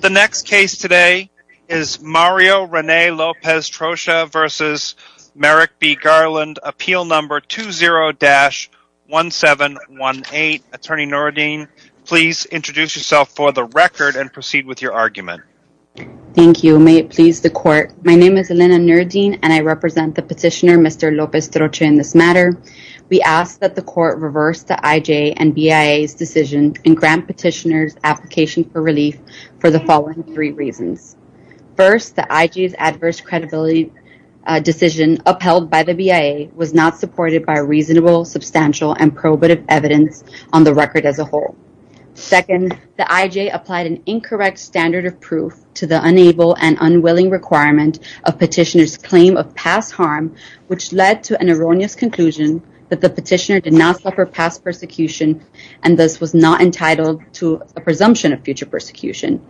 The next case today is Mario René López Troche v. Merrick B. Garland, Appeal No. 20-1718. Attorney Nooradeen, please introduce yourself for the record and proceed with your argument. Thank you. May it please the Court. My name is Elena Nooradeen, and I represent the petitioner, Mr. López Troche, in this matter. We ask that the Court reverse the IJ and BIA's decision and grant petitioners' application for relief for the following three reasons. First, the IJ's adverse credibility decision upheld by the BIA was not supported by reasonable, substantial, and probative evidence on the record as a whole. Second, the IJ applied an incorrect standard of proof to the unable and unwilling requirement of petitioners' claim of past harm, which led to an erroneous conclusion that the petitioner did not suffer past persecution and thus was not entitled to a presumption of future persecution.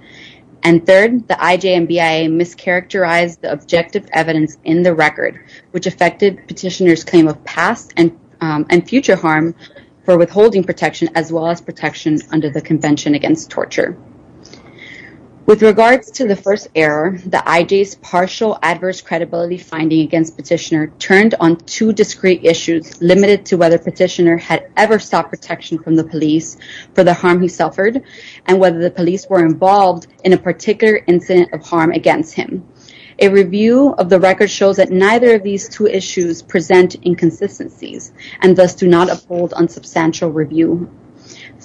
And third, the IJ and BIA mischaracterized the objective evidence in the record, which affected petitioners' claim of past and future harm for withholding protection as well as protection under the Convention Against Torture. With regards to the first error, the IJ's partial adverse credibility finding against petitioner turned on two discrete issues limited to whether petitioner had ever sought protection from the police for the harm he suffered and whether the police were involved in a particular incident of harm against him. A review of the record shows that neither of these two issues present inconsistencies and thus do not uphold unsubstantial review.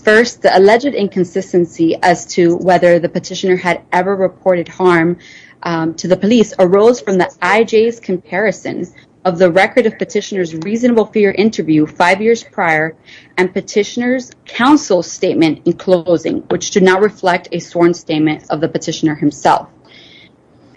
First, the alleged inconsistency as to whether the petitioner had ever reported harm to the police arose from the IJ's comparisons of the record of petitioner's reasonable fear interview five years prior and petitioner's counsel statement in closing, which do not reflect a sworn statement of the petitioner himself.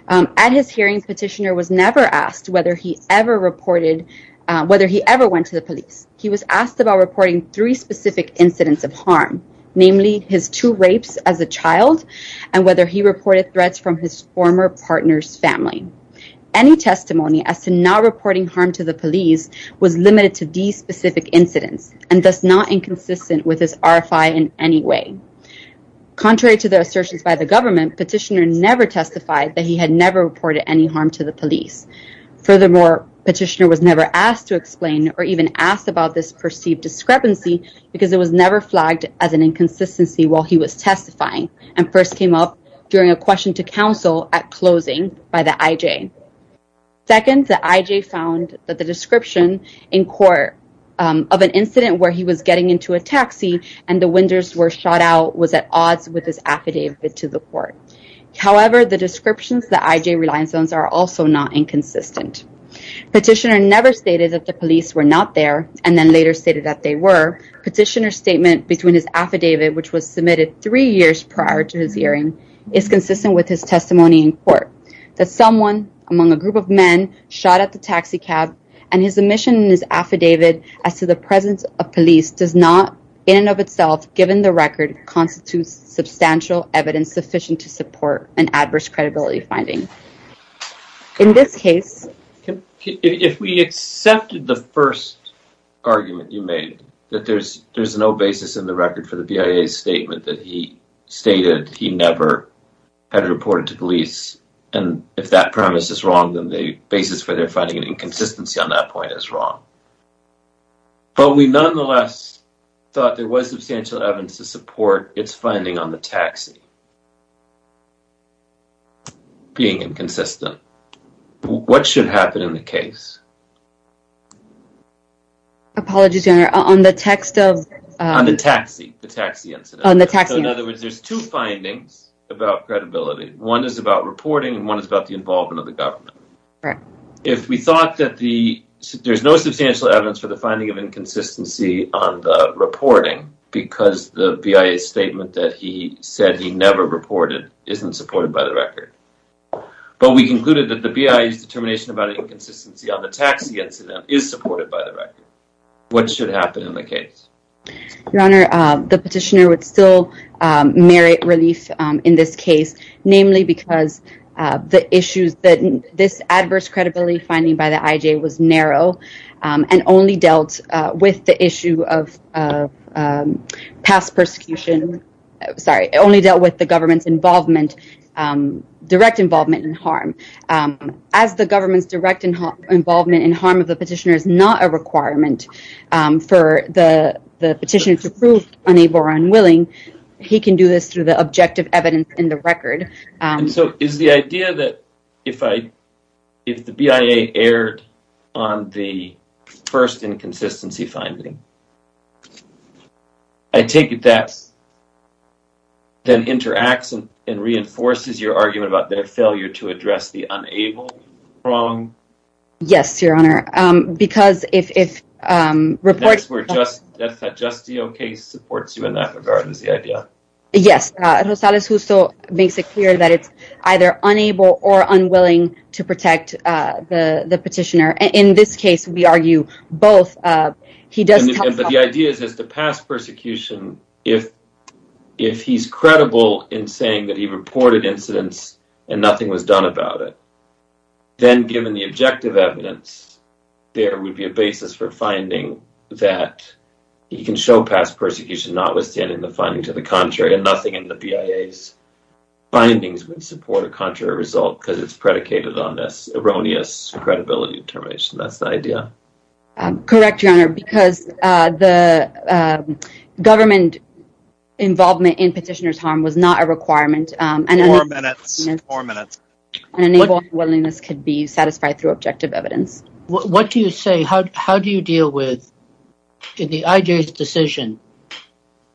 At his hearing, petitioner was never asked whether he ever went to the police. He was asked about reporting three specific incidents of harm, namely his two rapes as a child and whether he reported threats from his former partner's family. Any testimony as to not reporting harm to the police was limited to these specific incidents and thus not inconsistent with his RFI in any way. Contrary to the assertions by the government, petitioner never testified that he had never reported any harm to the police. Furthermore, petitioner was never asked to explain or even asked about this perceived discrepancy because it was never flagged as an inconsistency while he was testifying and first came up during a question to counsel at closing by the IJ. Second, the IJ found that the description in court of an incident where he was getting into a taxi and the windows were shot out was at odds with his affidavit to the court. However, the descriptions of the IJ Reliance Zones are also not inconsistent. Petitioner never stated that the police were not there and then later stated that they were. Petitioner's statement between his affidavit, which was submitted three years prior to his hearing, is consistent with his testimony in court, that someone among a group of men shot at the taxi cab and his omission in his affidavit as to the presence of police does not, in and of itself, given the record, constitutes substantial evidence sufficient to support an adverse credibility finding. In this case... If we accepted the first argument you made, that there's no basis in the record for the BIA's statement that he stated he never had reported to police and if that premise is wrong, then the basis for their finding an inconsistency on that point is wrong. But we nonetheless thought there was substantial evidence to support its finding on the taxi... being inconsistent. What should happen in the case? Apologies, your honor, on the text of... On the taxi, the taxi incident. So in other words, there's two findings about credibility. One is about reporting and one is about the involvement of the government. If we thought that the... There's no substantial evidence for the finding of inconsistency on the reporting because the BIA's statement that he said he never reported isn't supported by the record. But we concluded that the BIA's determination about inconsistency on the taxi incident is supported by the record. What should happen in the case? Your honor, the petitioner would still merit relief in this case, namely because the issues that this adverse credibility finding by the IJ was narrow and only dealt with the issue of past persecution. Sorry, only dealt with the government's involvement, direct involvement in harm. As the government's direct involvement in harm of the petitioner is not a requirement for the petitioner to prove unable or unwilling. He can do this through the objective evidence in the record. So is the idea that if the BIA erred on the first inconsistency finding, I take it that then interacts and reinforces your argument about their failure to address the unable wrong? Yes, your honor. That's where that Justio case supports you in that regard is the idea. Yes, Rosales Justo makes it clear that it's either unable or unwilling to protect the petitioner. In this case, we argue both. But the idea is that the past persecution, if he's credible in saying that he reported incidents and nothing was done about it, then given the objective evidence, there would be a basis for finding that he can show past persecution notwithstanding the finding to the contrary and nothing in the BIA's findings would support a contrary result because it's predicated on this erroneous credibility determination. That's the idea. Correct, your honor, because the government involvement in petitioner's harm was not a requirement. Four minutes, four minutes. Unable or unwillingness could be satisfied through objective evidence. What do you say, how do you deal with the IJ's decision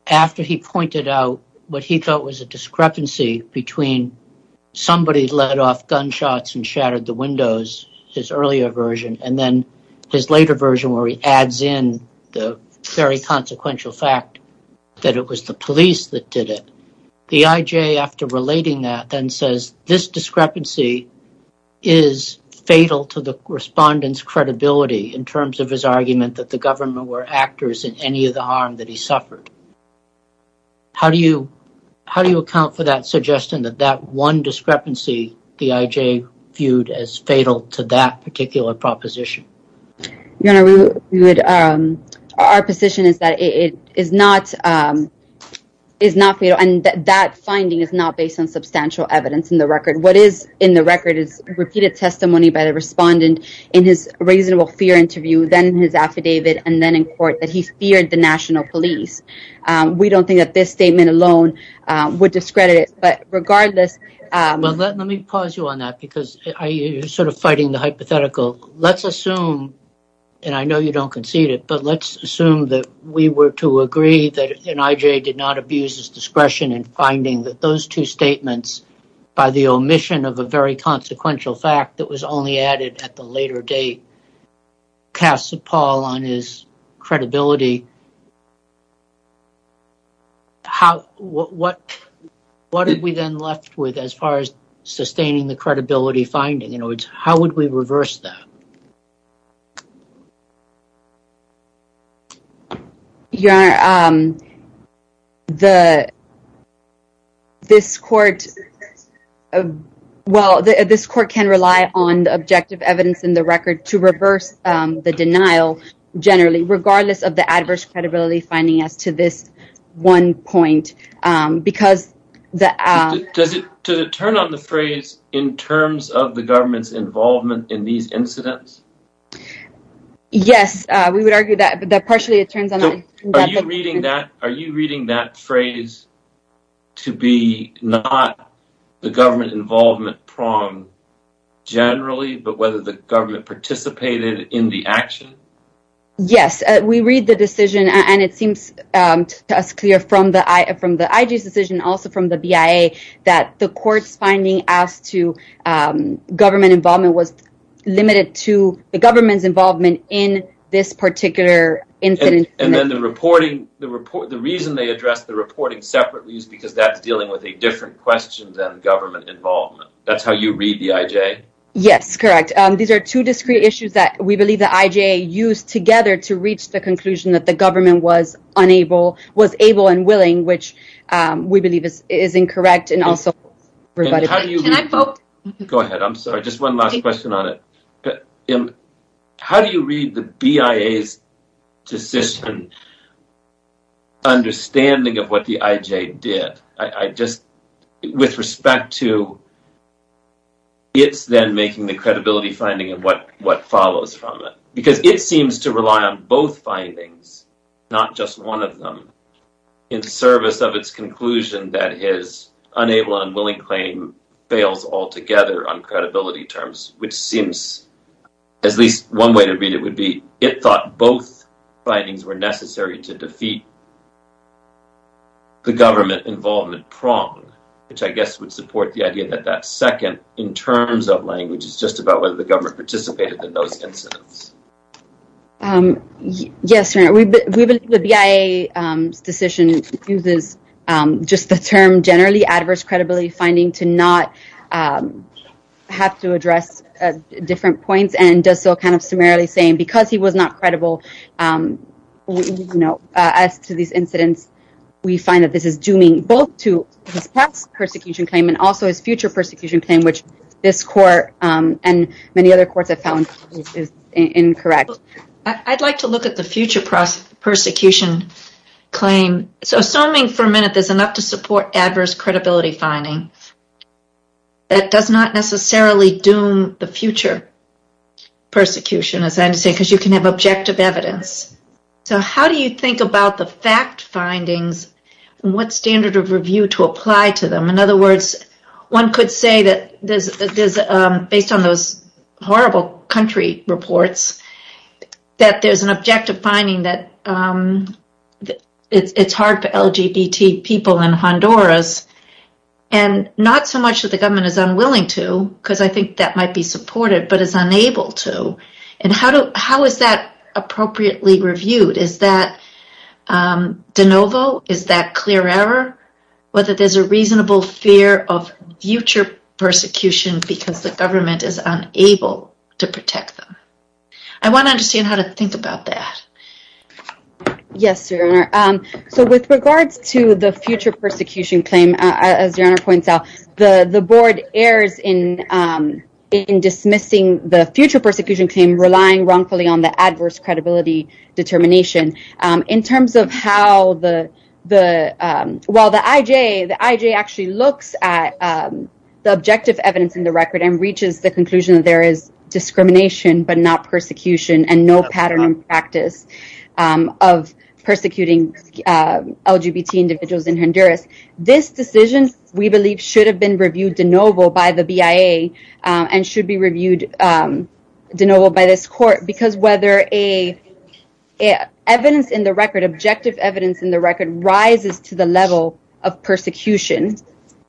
after he pointed out what he thought was a discrepancy between somebody let off gunshots and shattered the windows, his earlier version, and then his later version where he adds in the very consequential fact that it was the police that did it. The IJ, after relating that, then says this discrepancy is fatal to the respondent's credibility in terms of his argument that the government were actors in any of the harm that he suffered. How do you account for that suggestion that that one discrepancy the IJ viewed as fatal to that particular proposition? Your honor, our position is that it is not fatal and that finding is not based on substantial evidence in the record. What is in the record is repeated testimony by the respondent in his reasonable fear interview, then his affidavit, and then in court that he feared the national police. We don't think that this statement alone would discredit it, but regardless... Well, let me pause you on that because you're sort of fighting the hypothetical. Let's assume, and I know you don't concede it, but let's assume that we were to agree that an IJ did not abuse his discretion in finding that those two statements by the omission of a very consequential fact that was only added at the later date casts a pall on his credibility. What are we then left with as far as sustaining the credibility finding? In other words, how would we reverse that? Your honor, this court can rely on the objective evidence in the record to reverse the denial generally, regardless of the adverse credibility finding as to this one point. Does it turn on the phrase, in terms of the government's involvement in these incidents? Yes, we would argue that partially it turns on... Are you reading that phrase to be not the government involvement prong generally, but whether the government participated in the action? Yes, we read the decision and it seems to us clear from the IJ's decision, also from the BIA, that the court's finding as to government involvement was limited to the government's involvement in this particular incident. And then the reason they address the reporting separately is because that's dealing with a different question than government involvement. That's how you read the IJ? Yes, correct. These are two discrete issues that we believe the IJ used together to reach the conclusion that the government was able and willing, which we believe is incorrect and also... Can I vote? Go ahead, I'm sorry, just one last question on it. How do you read the BIA's decision, understanding of what the IJ did, with respect to its then making the credibility finding of what follows from it? Because it seems to rely on both findings, not just one of them, in service of its conclusion that his unable and unwilling claim fails altogether on credibility terms, which seems as least one way to read it would be it thought both findings were necessary to defeat the government involvement prong, which I guess would support the idea that that second, in terms of language, is just about whether the government participated in those incidents. Yes, we believe the BIA's decision uses just the term generally adverse credibility finding to not have to address different points and does so kind of summarily saying because he was not credible as to these incidents, we find that this is dooming both to his past persecution claim and also his future persecution claim, which this court and many other courts have found is incorrect. I'd like to look at the future prosecution claim. So, assuming for a minute there's enough to support adverse credibility finding, that does not necessarily doom the future persecution, as I understand, because you can have objective evidence. So, how do you think about the fact findings and what standard of review to apply to them? In other words, one could say that based on those horrible country reports, that there's an objective finding that it's hard for LGBT people in Honduras and not so much that the government is unwilling to, because I think that might be supported, but is unable to. And how is that appropriately reviewed? Is that de novo? Is that clear error? Whether there's a reasonable fear of future persecution because the government is unable to protect them. I want to understand how to think about that. Yes, Your Honor. So, with regards to the future persecution claim, as Your Honor points out, the board errs in dismissing the future persecution claim relying wrongfully on the adverse credibility determination. In terms of how the… Well, the IJ actually looks at the objective evidence in the record and reaches the conclusion that there is discrimination but not persecution and no pattern and practice of persecuting LGBT individuals in Honduras. This decision, we believe, should have been reviewed de novo by the BIA and should be reviewed de novo by this court because whether evidence in the record, objective evidence in the record, rises to the level of persecution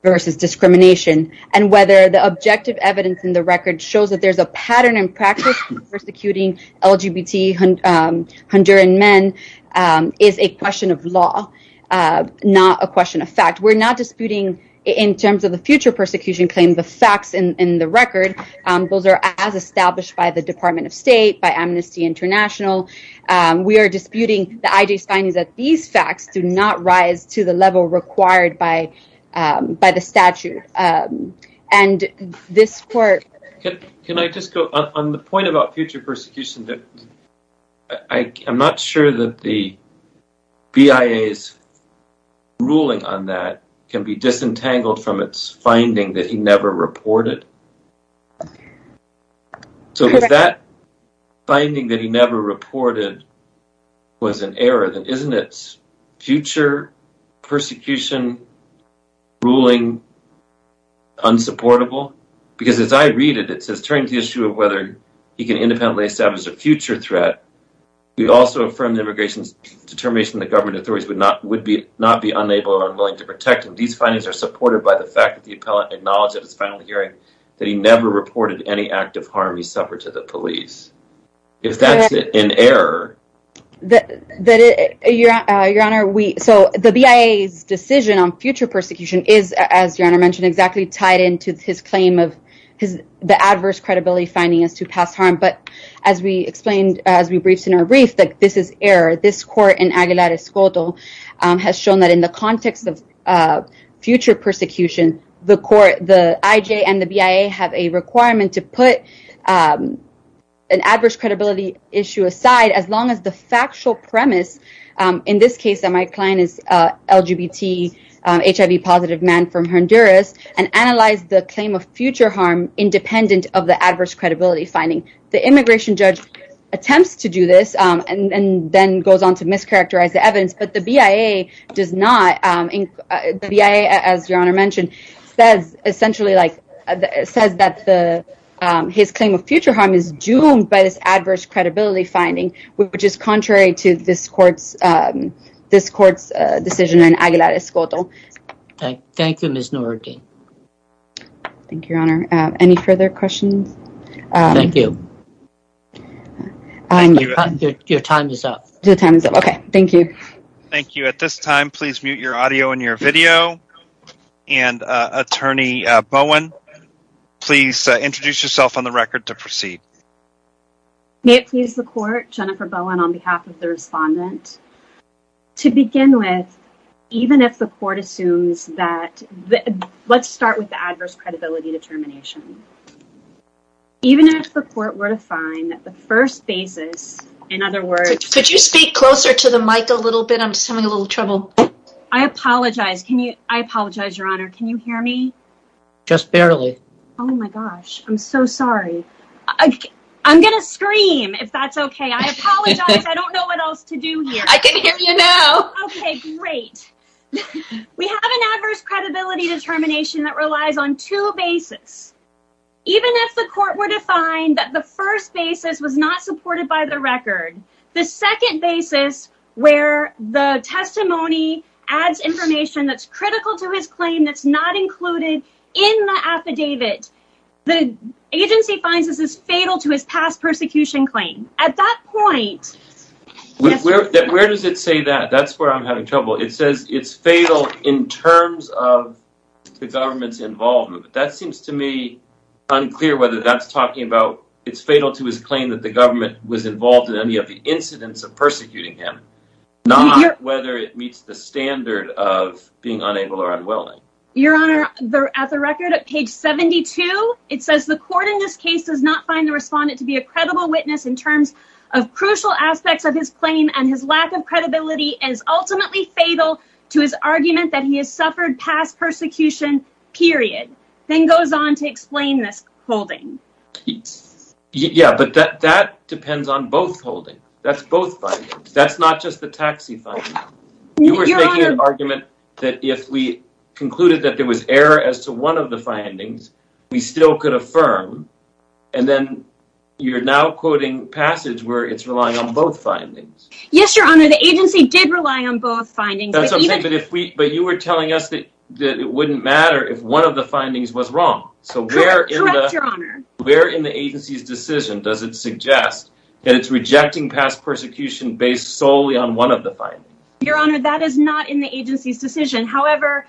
versus discrimination and whether the objective evidence in the record shows that there's a pattern and practice of persecuting LGBT Honduran men is a question of law, not a question of fact. We're not disputing, in terms of the future persecution claim, the facts in the record. Those are as established by the Department of State, by Amnesty International. We are disputing the IJ's findings that these facts do not rise to the level required by the statute. And this court… Can I just go on the point about future persecution? I'm not sure that the BIA's ruling on that can be disentangled from its finding that he never reported. So if that finding that he never reported was an error, then isn't its future persecution ruling unsupportable? Because as I read it, it says, turning to the issue of whether he can independently establish a future threat, we also affirm the immigration's determination that government authorities would not be unable or unwilling to protect him. These findings are supported by the fact that the appellate acknowledged at his final hearing that he never reported any act of harm he suffered to the police. If that's an error… Your Honor, the BIA's decision on future persecution is, as Your Honor mentioned, exactly tied into his claim of the adverse credibility finding as to past harm. But as we briefed in our brief, this is error. This court in Aguilar-Escoto has shown that in the context of future persecution, the IJ and the BIA have a requirement to put an adverse credibility issue aside as long as the factual premise, in this case that my client is an LGBT, HIV-positive man from Honduras, and analyze the claim of future harm independent of the adverse credibility finding. The immigration judge attempts to do this and then goes on to mischaracterize the evidence, but the BIA, as Your Honor mentioned, says that his claim of future harm is doomed by this adverse credibility finding, which is contrary to this court's decision in Aguilar-Escoto. Thank you, Ms. Norrodine. Thank you, Your Honor. Any further questions? Thank you. Your time is up. Okay. Thank you. Thank you. At this time, please mute your audio and your video. And, Attorney Bowen, please introduce yourself on the record to proceed. May it please the court, Jennifer Bowen on behalf of the respondent. To begin with, even if the court assumes that—let's start with the adverse credibility determination. Even if the court were to find that the first basis, in other words— Could you speak closer to the mic a little bit? I'm just having a little trouble. I apologize. I apologize, Your Honor. Can you hear me? Just barely. Oh, my gosh. I'm so sorry. I'm going to scream, if that's okay. I apologize. I don't know what else to do here. I can hear you now. Okay, great. We have an adverse credibility determination that relies on two bases. Even if the court were to find that the first basis was not supported by the record, the second basis, where the testimony adds information that's critical to his claim that's not included in the affidavit, the agency finds this is fatal to his past persecution claim. At that point— Where does it say that? That's where I'm having trouble. It says it's fatal in terms of the government's involvement, but that seems to me unclear whether that's talking about it's fatal to his claim that the government was involved in any of the incidents of persecuting him, not whether it meets the standard of being unable or unwilling. Your Honor, at the record, at page 72, it says, the court in this case does not find the respondent to be a credible witness in terms of crucial aspects of his claim, and his lack of credibility is ultimately fatal to his argument that he has suffered past persecution, period. Then goes on to explain this holding. Yeah, but that depends on both holdings. That's both findings. That's not just the taxi finding. You were making an argument that if we concluded that there was error as to one of the findings, we still could affirm, and then you're now quoting passage where it's relying on both findings. Yes, Your Honor, the agency did rely on both findings. But you were telling us that it wouldn't matter if one of the findings was wrong. Correct, Your Honor. Where in the agency's decision does it suggest that it's rejecting past persecution based solely on one of the findings? Your Honor, that is not in the agency's decision. However,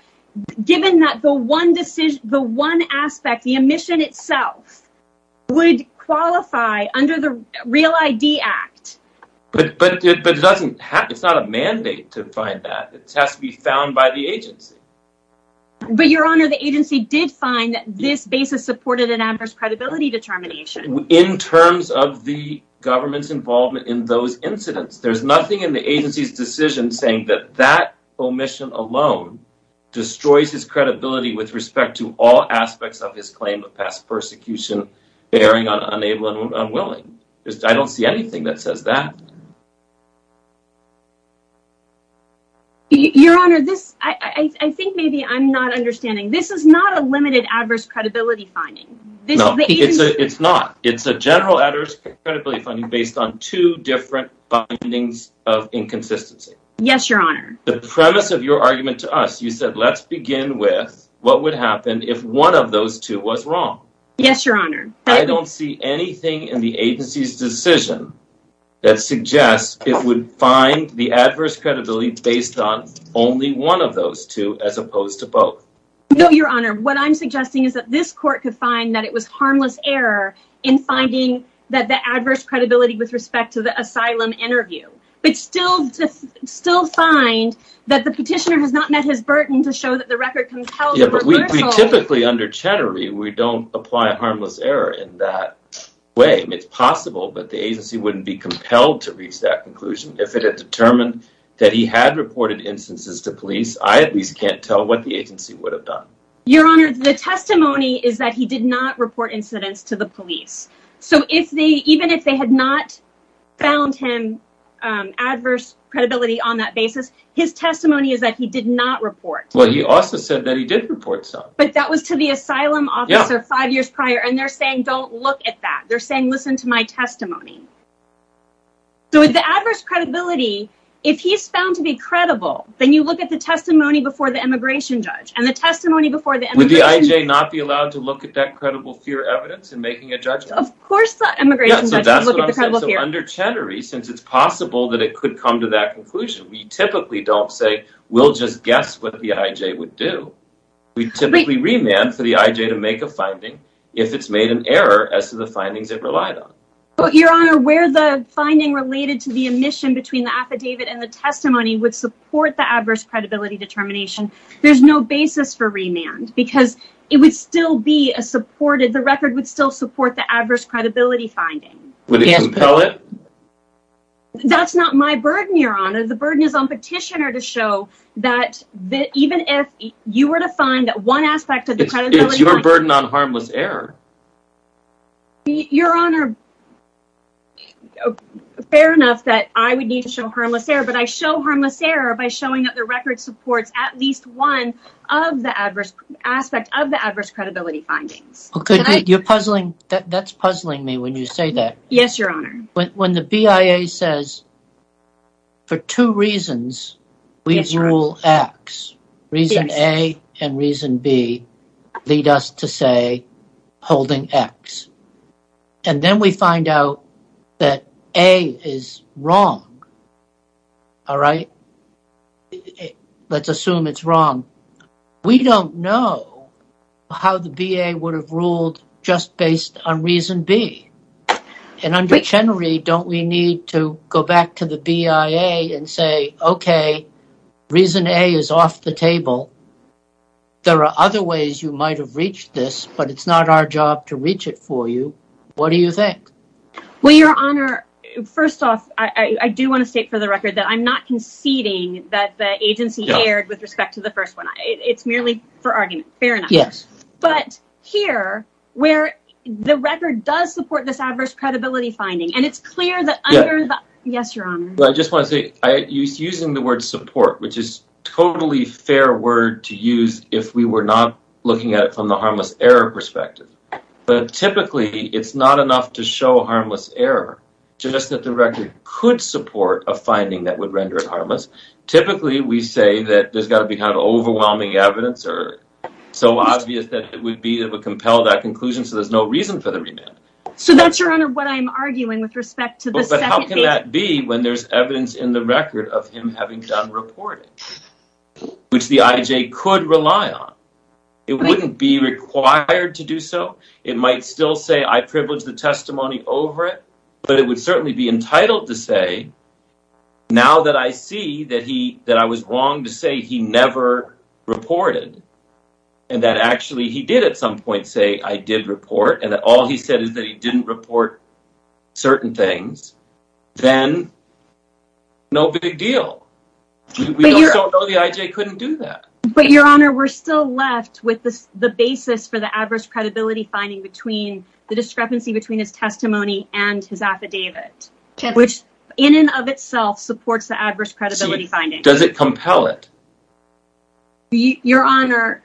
given that the one decision, the one aspect, the omission itself would qualify under the Real ID Act. But it doesn't have, it's not a mandate to find that. It has to be found by the agency. But Your Honor, the agency did find that this basis supported an adverse credibility determination. In terms of the government's involvement in those incidents, there's nothing in the agency's decision saying that that omission alone destroys his credibility with respect to all aspects of his claim of past persecution bearing on unable and unwilling. I don't see anything that says that. Your Honor, this, I think maybe I'm not understanding. This is not a limited adverse credibility finding. No, it's not. It's a general adverse credibility finding based on two different findings of inconsistency. Yes, Your Honor. The premise of your argument to us, you said let's begin with what would happen if one of those two was wrong. Yes, Your Honor. I don't see anything in the agency's decision that suggests it would find the adverse credibility based on only one of those two as opposed to both. No, Your Honor. What I'm suggesting is that this court could find that it was harmless error in finding that the adverse credibility with respect to the asylum interview. But still find that the petitioner has not met his burden to show that the record compels a reversal. We typically under Chattery, we don't apply harmless error in that way. It's possible, but the agency wouldn't be compelled to reach that conclusion. If it had determined that he had reported instances to police, I at least can't tell what the agency would have done. Your Honor, the testimony is that he did not report incidents to the police. So even if they had not found him adverse credibility on that basis, his testimony is that he did not report. Well, he also said that he did report some. But that was to the asylum officer five years prior, and they're saying don't look at that. They're saying listen to my testimony. So with the adverse credibility, if he's found to be credible, then you look at the testimony before the immigration judge and the testimony before the immigration judge. Would the IJ not be allowed to look at that credible fear evidence in making a judgment? Of course the immigration judge would look at the credible fear. So that's what I'm saying. So under Chattery, since it's possible that it could come to that conclusion, we typically don't say we'll just guess what the IJ would do. We typically remand for the IJ to make a finding if it's made an error as to the findings it relied on. Your Honor, where the finding related to the omission between the affidavit and the testimony would support the adverse credibility determination, there's no basis for remand. Because it would still be a supported, the record would still support the adverse credibility finding. Would it compel it? That's not my burden, Your Honor. The burden is on Petitioner to show that even if you were to find one aspect of the credibility findings... It's your burden on harmless error. Your Honor, fair enough that I would need to show harmless error, but I show harmless error by showing that the record supports at least one aspect of the adverse credibility findings. You're puzzling, that's puzzling me when you say that. Yes, Your Honor. When the BIA says for two reasons, we rule X. Reason A and reason B lead us to say holding X. And then we find out that A is wrong. All right? Let's assume it's wrong. We don't know how the BA would have ruled just based on reason B. And under Chenry, don't we need to go back to the BIA and say, okay, reason A is off the table. There are other ways you might have reached this, but it's not our job to reach it for you. What do you think? Well, Your Honor, first off, I do want to state for the record that I'm not conceding that the agency erred with respect to the first one. It's merely for argument. Fair enough. Yes. But here, where the record does support this adverse credibility finding, and it's clear that under the – Yes, Your Honor. I just want to say, using the word support, which is a totally fair word to use if we were not looking at it from the harmless error perspective. But typically, it's not enough to show harmless error, just that the record could support a finding that would render it harmless. Typically, we say that there's got to be kind of overwhelming evidence. So obvious that it would compel that conclusion, so there's no reason for the remand. So that's, Your Honor, what I'm arguing with respect to the second case. But how can that be when there's evidence in the record of him having done reporting, which the IJ could rely on? It wouldn't be required to do so. It might still say, I privilege the testimony over it, but it would certainly be entitled to say, now that I see that I was wrong to say he never reported, and that actually he did at some point say, I did report, and that all he said is that he didn't report certain things, then no big deal. We don't know the IJ couldn't do that. But, Your Honor, we're still left with the basis for the adverse credibility finding between the discrepancy between his testimony and his affidavit. Which, in and of itself, supports the adverse credibility finding. Does it compel it? Your Honor,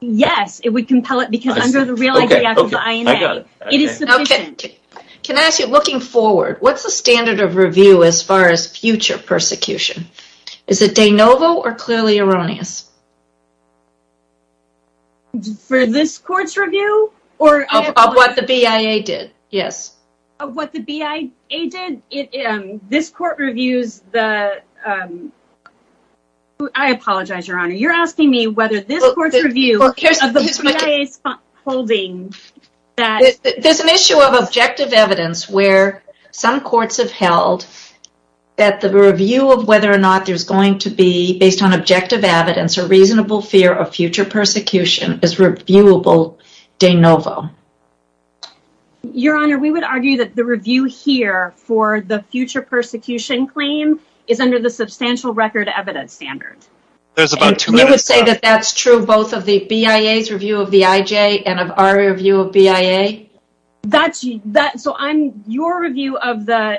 yes, it would compel it, because under the real IJ, after the INA, it is sufficient. Can I ask you, looking forward, what's the standard of review as far as future persecution? Is it de novo or clearly erroneous? For this court's review? Of what the BIA did, yes. Of what the BIA did? This court reviews the... I apologize, Your Honor, you're asking me whether this court's review of the BIA's holding that... There's an issue of objective evidence where some courts have held that the review of whether or not there's going to be, based on objective evidence, a reasonable fear of future persecution is reviewable de novo. Your Honor, we would argue that the review here for the future persecution claim is under the substantial record evidence standard. You would say that that's true both of the BIA's review of the IJ and of our review of BIA? So, on your review of the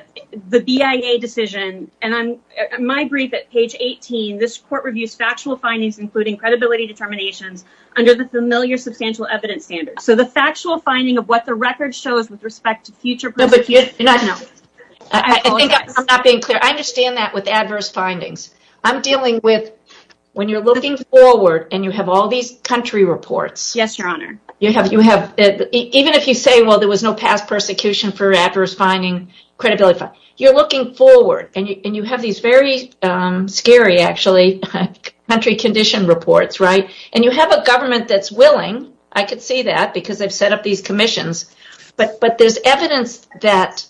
BIA decision, and on my brief at page 18, this court reviews factual findings including credibility determinations under the familiar substantial evidence standard. So, the factual finding of what the record shows with respect to future persecution... No, but you... I apologize. I'm not being clear. I understand that with adverse findings. I'm dealing with when you're looking forward and you have all these country reports... Yes, Your Honor. Even if you say, well, there was no past persecution for adverse finding, credibility finding, you're looking forward and you have these very scary, actually, country condition reports, right? And you have a government that's willing. I could see that because they've set up these commissions. But there's evidence that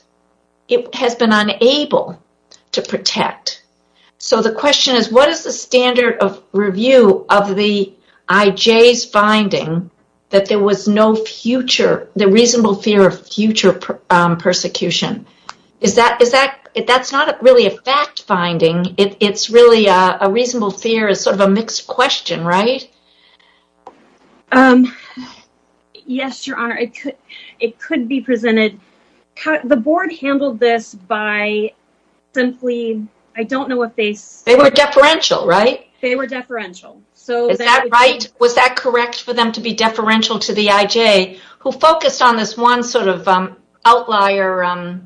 it has been unable to protect. So, the question is, what is the standard of review of the IJ's finding that there was no future, the reasonable fear of future persecution? That's not really a fact-finding. It's really a reasonable fear. It's sort of a mixed question, right? Yes, Your Honor. It could be presented... The board handled this by simply... I don't know if they... They were deferential, right? They were deferential. Is that right? Was that correct for them to be deferential to the IJ, who focused on this one sort of outlier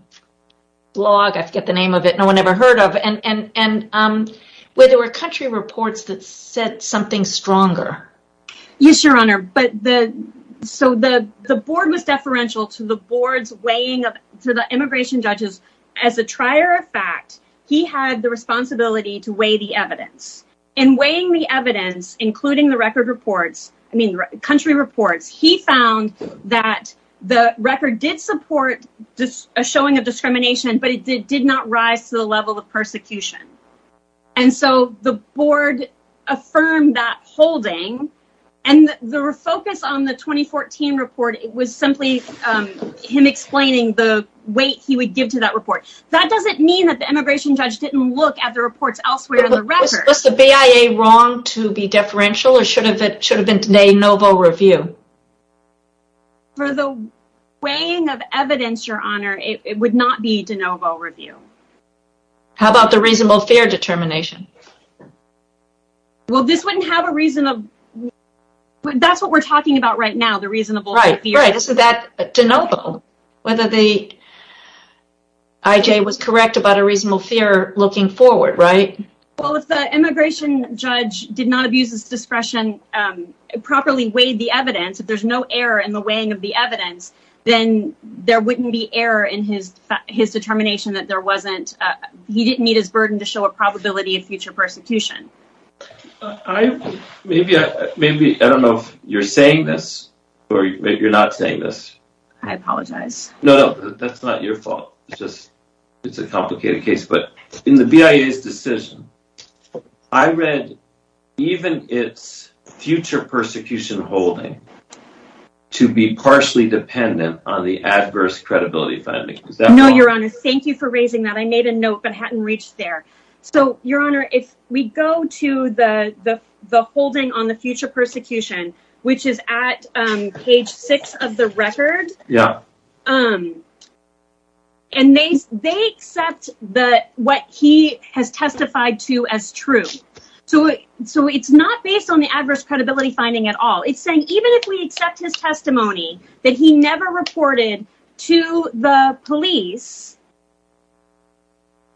blog, I forget the name of it, no one ever heard of, where there were country reports that said something stronger? Yes, Your Honor. So, the board was deferential to the immigration judges. As a trier of fact, he had the responsibility to weigh the evidence. In weighing the evidence, including the record reports, I mean, country reports, he found that the record did support a showing of discrimination, but it did not rise to the level of persecution. And so, the board affirmed that holding, and the focus on the 2014 report was simply him explaining the weight he would give to that report. That doesn't mean that the immigration judge didn't look at the reports elsewhere in the record. Was the BIA wrong to be deferential, or should it have been de novo review? For the weighing of evidence, Your Honor, it would not be de novo review. How about the reasonable fear determination? Well, this wouldn't have a reasonable... That's what we're talking about right now, the reasonable fear. Right, right, so that's de novo. Whether the IJ was correct about a reasonable fear looking forward, right? Well, if the immigration judge did not abuse his discretion, properly weighed the evidence, if there's no error in the weighing of the evidence, then there wouldn't be error in his determination that there wasn't... He didn't meet his burden to show a probability of future persecution. Maybe, I don't know if you're saying this, or you're not saying this. I apologize. No, no, that's not your fault. It's a complicated case, but in the BIA's decision, I read even its future persecution holding to be partially dependent on the adverse credibility finding. No, Your Honor, thank you for raising that. I made a note but hadn't reached there. So, Your Honor, if we go to the holding on the future persecution, which is at page 6 of the record, and they accept what he has testified to as true. So, it's not based on the adverse credibility finding at all. It's saying even if we accept his testimony that he never reported to the police,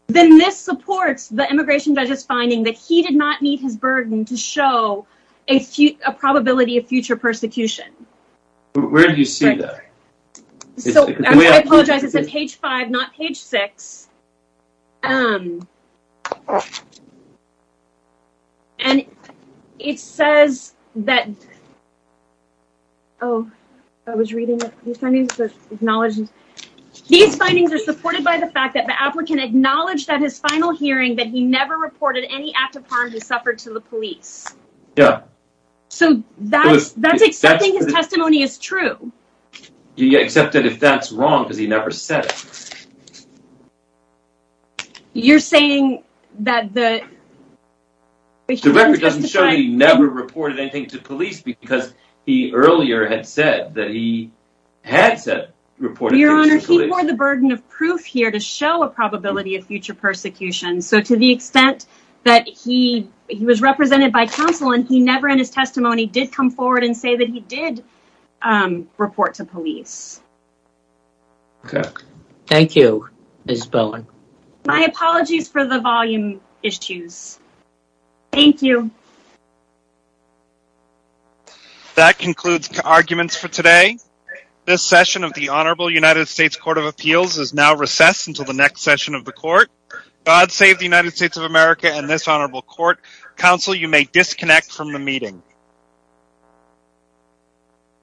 then this supports the immigration judge's finding that he did not meet his burden to show a probability of future persecution. Where do you see that? I apologize, it's at page 5, not page 6. And it says that... Oh, I was reading it. These findings are supported by the fact that the applicant acknowledged at his final hearing that he never reported any act of harm he suffered to the police. Yeah. So, that's accepting his testimony as true. Except that if that's wrong because he never said it. You're saying that the... The record doesn't show that he never reported anything to police because he earlier had said that he had reported to the police. Your Honor, he bore the burden of proof here to show a probability of future persecution. So, to the extent that he was represented by counsel and he never in his testimony did come forward and say that he did report to police. Okay. Thank you, Ms. Bowen. My apologies for the volume issues. Thank you. That concludes arguments for today. This session of the Honorable United States Court of Appeals is now recessed until the next session of the court. God save the United States of America and this honorable court. Counsel, you may disconnect from the meeting.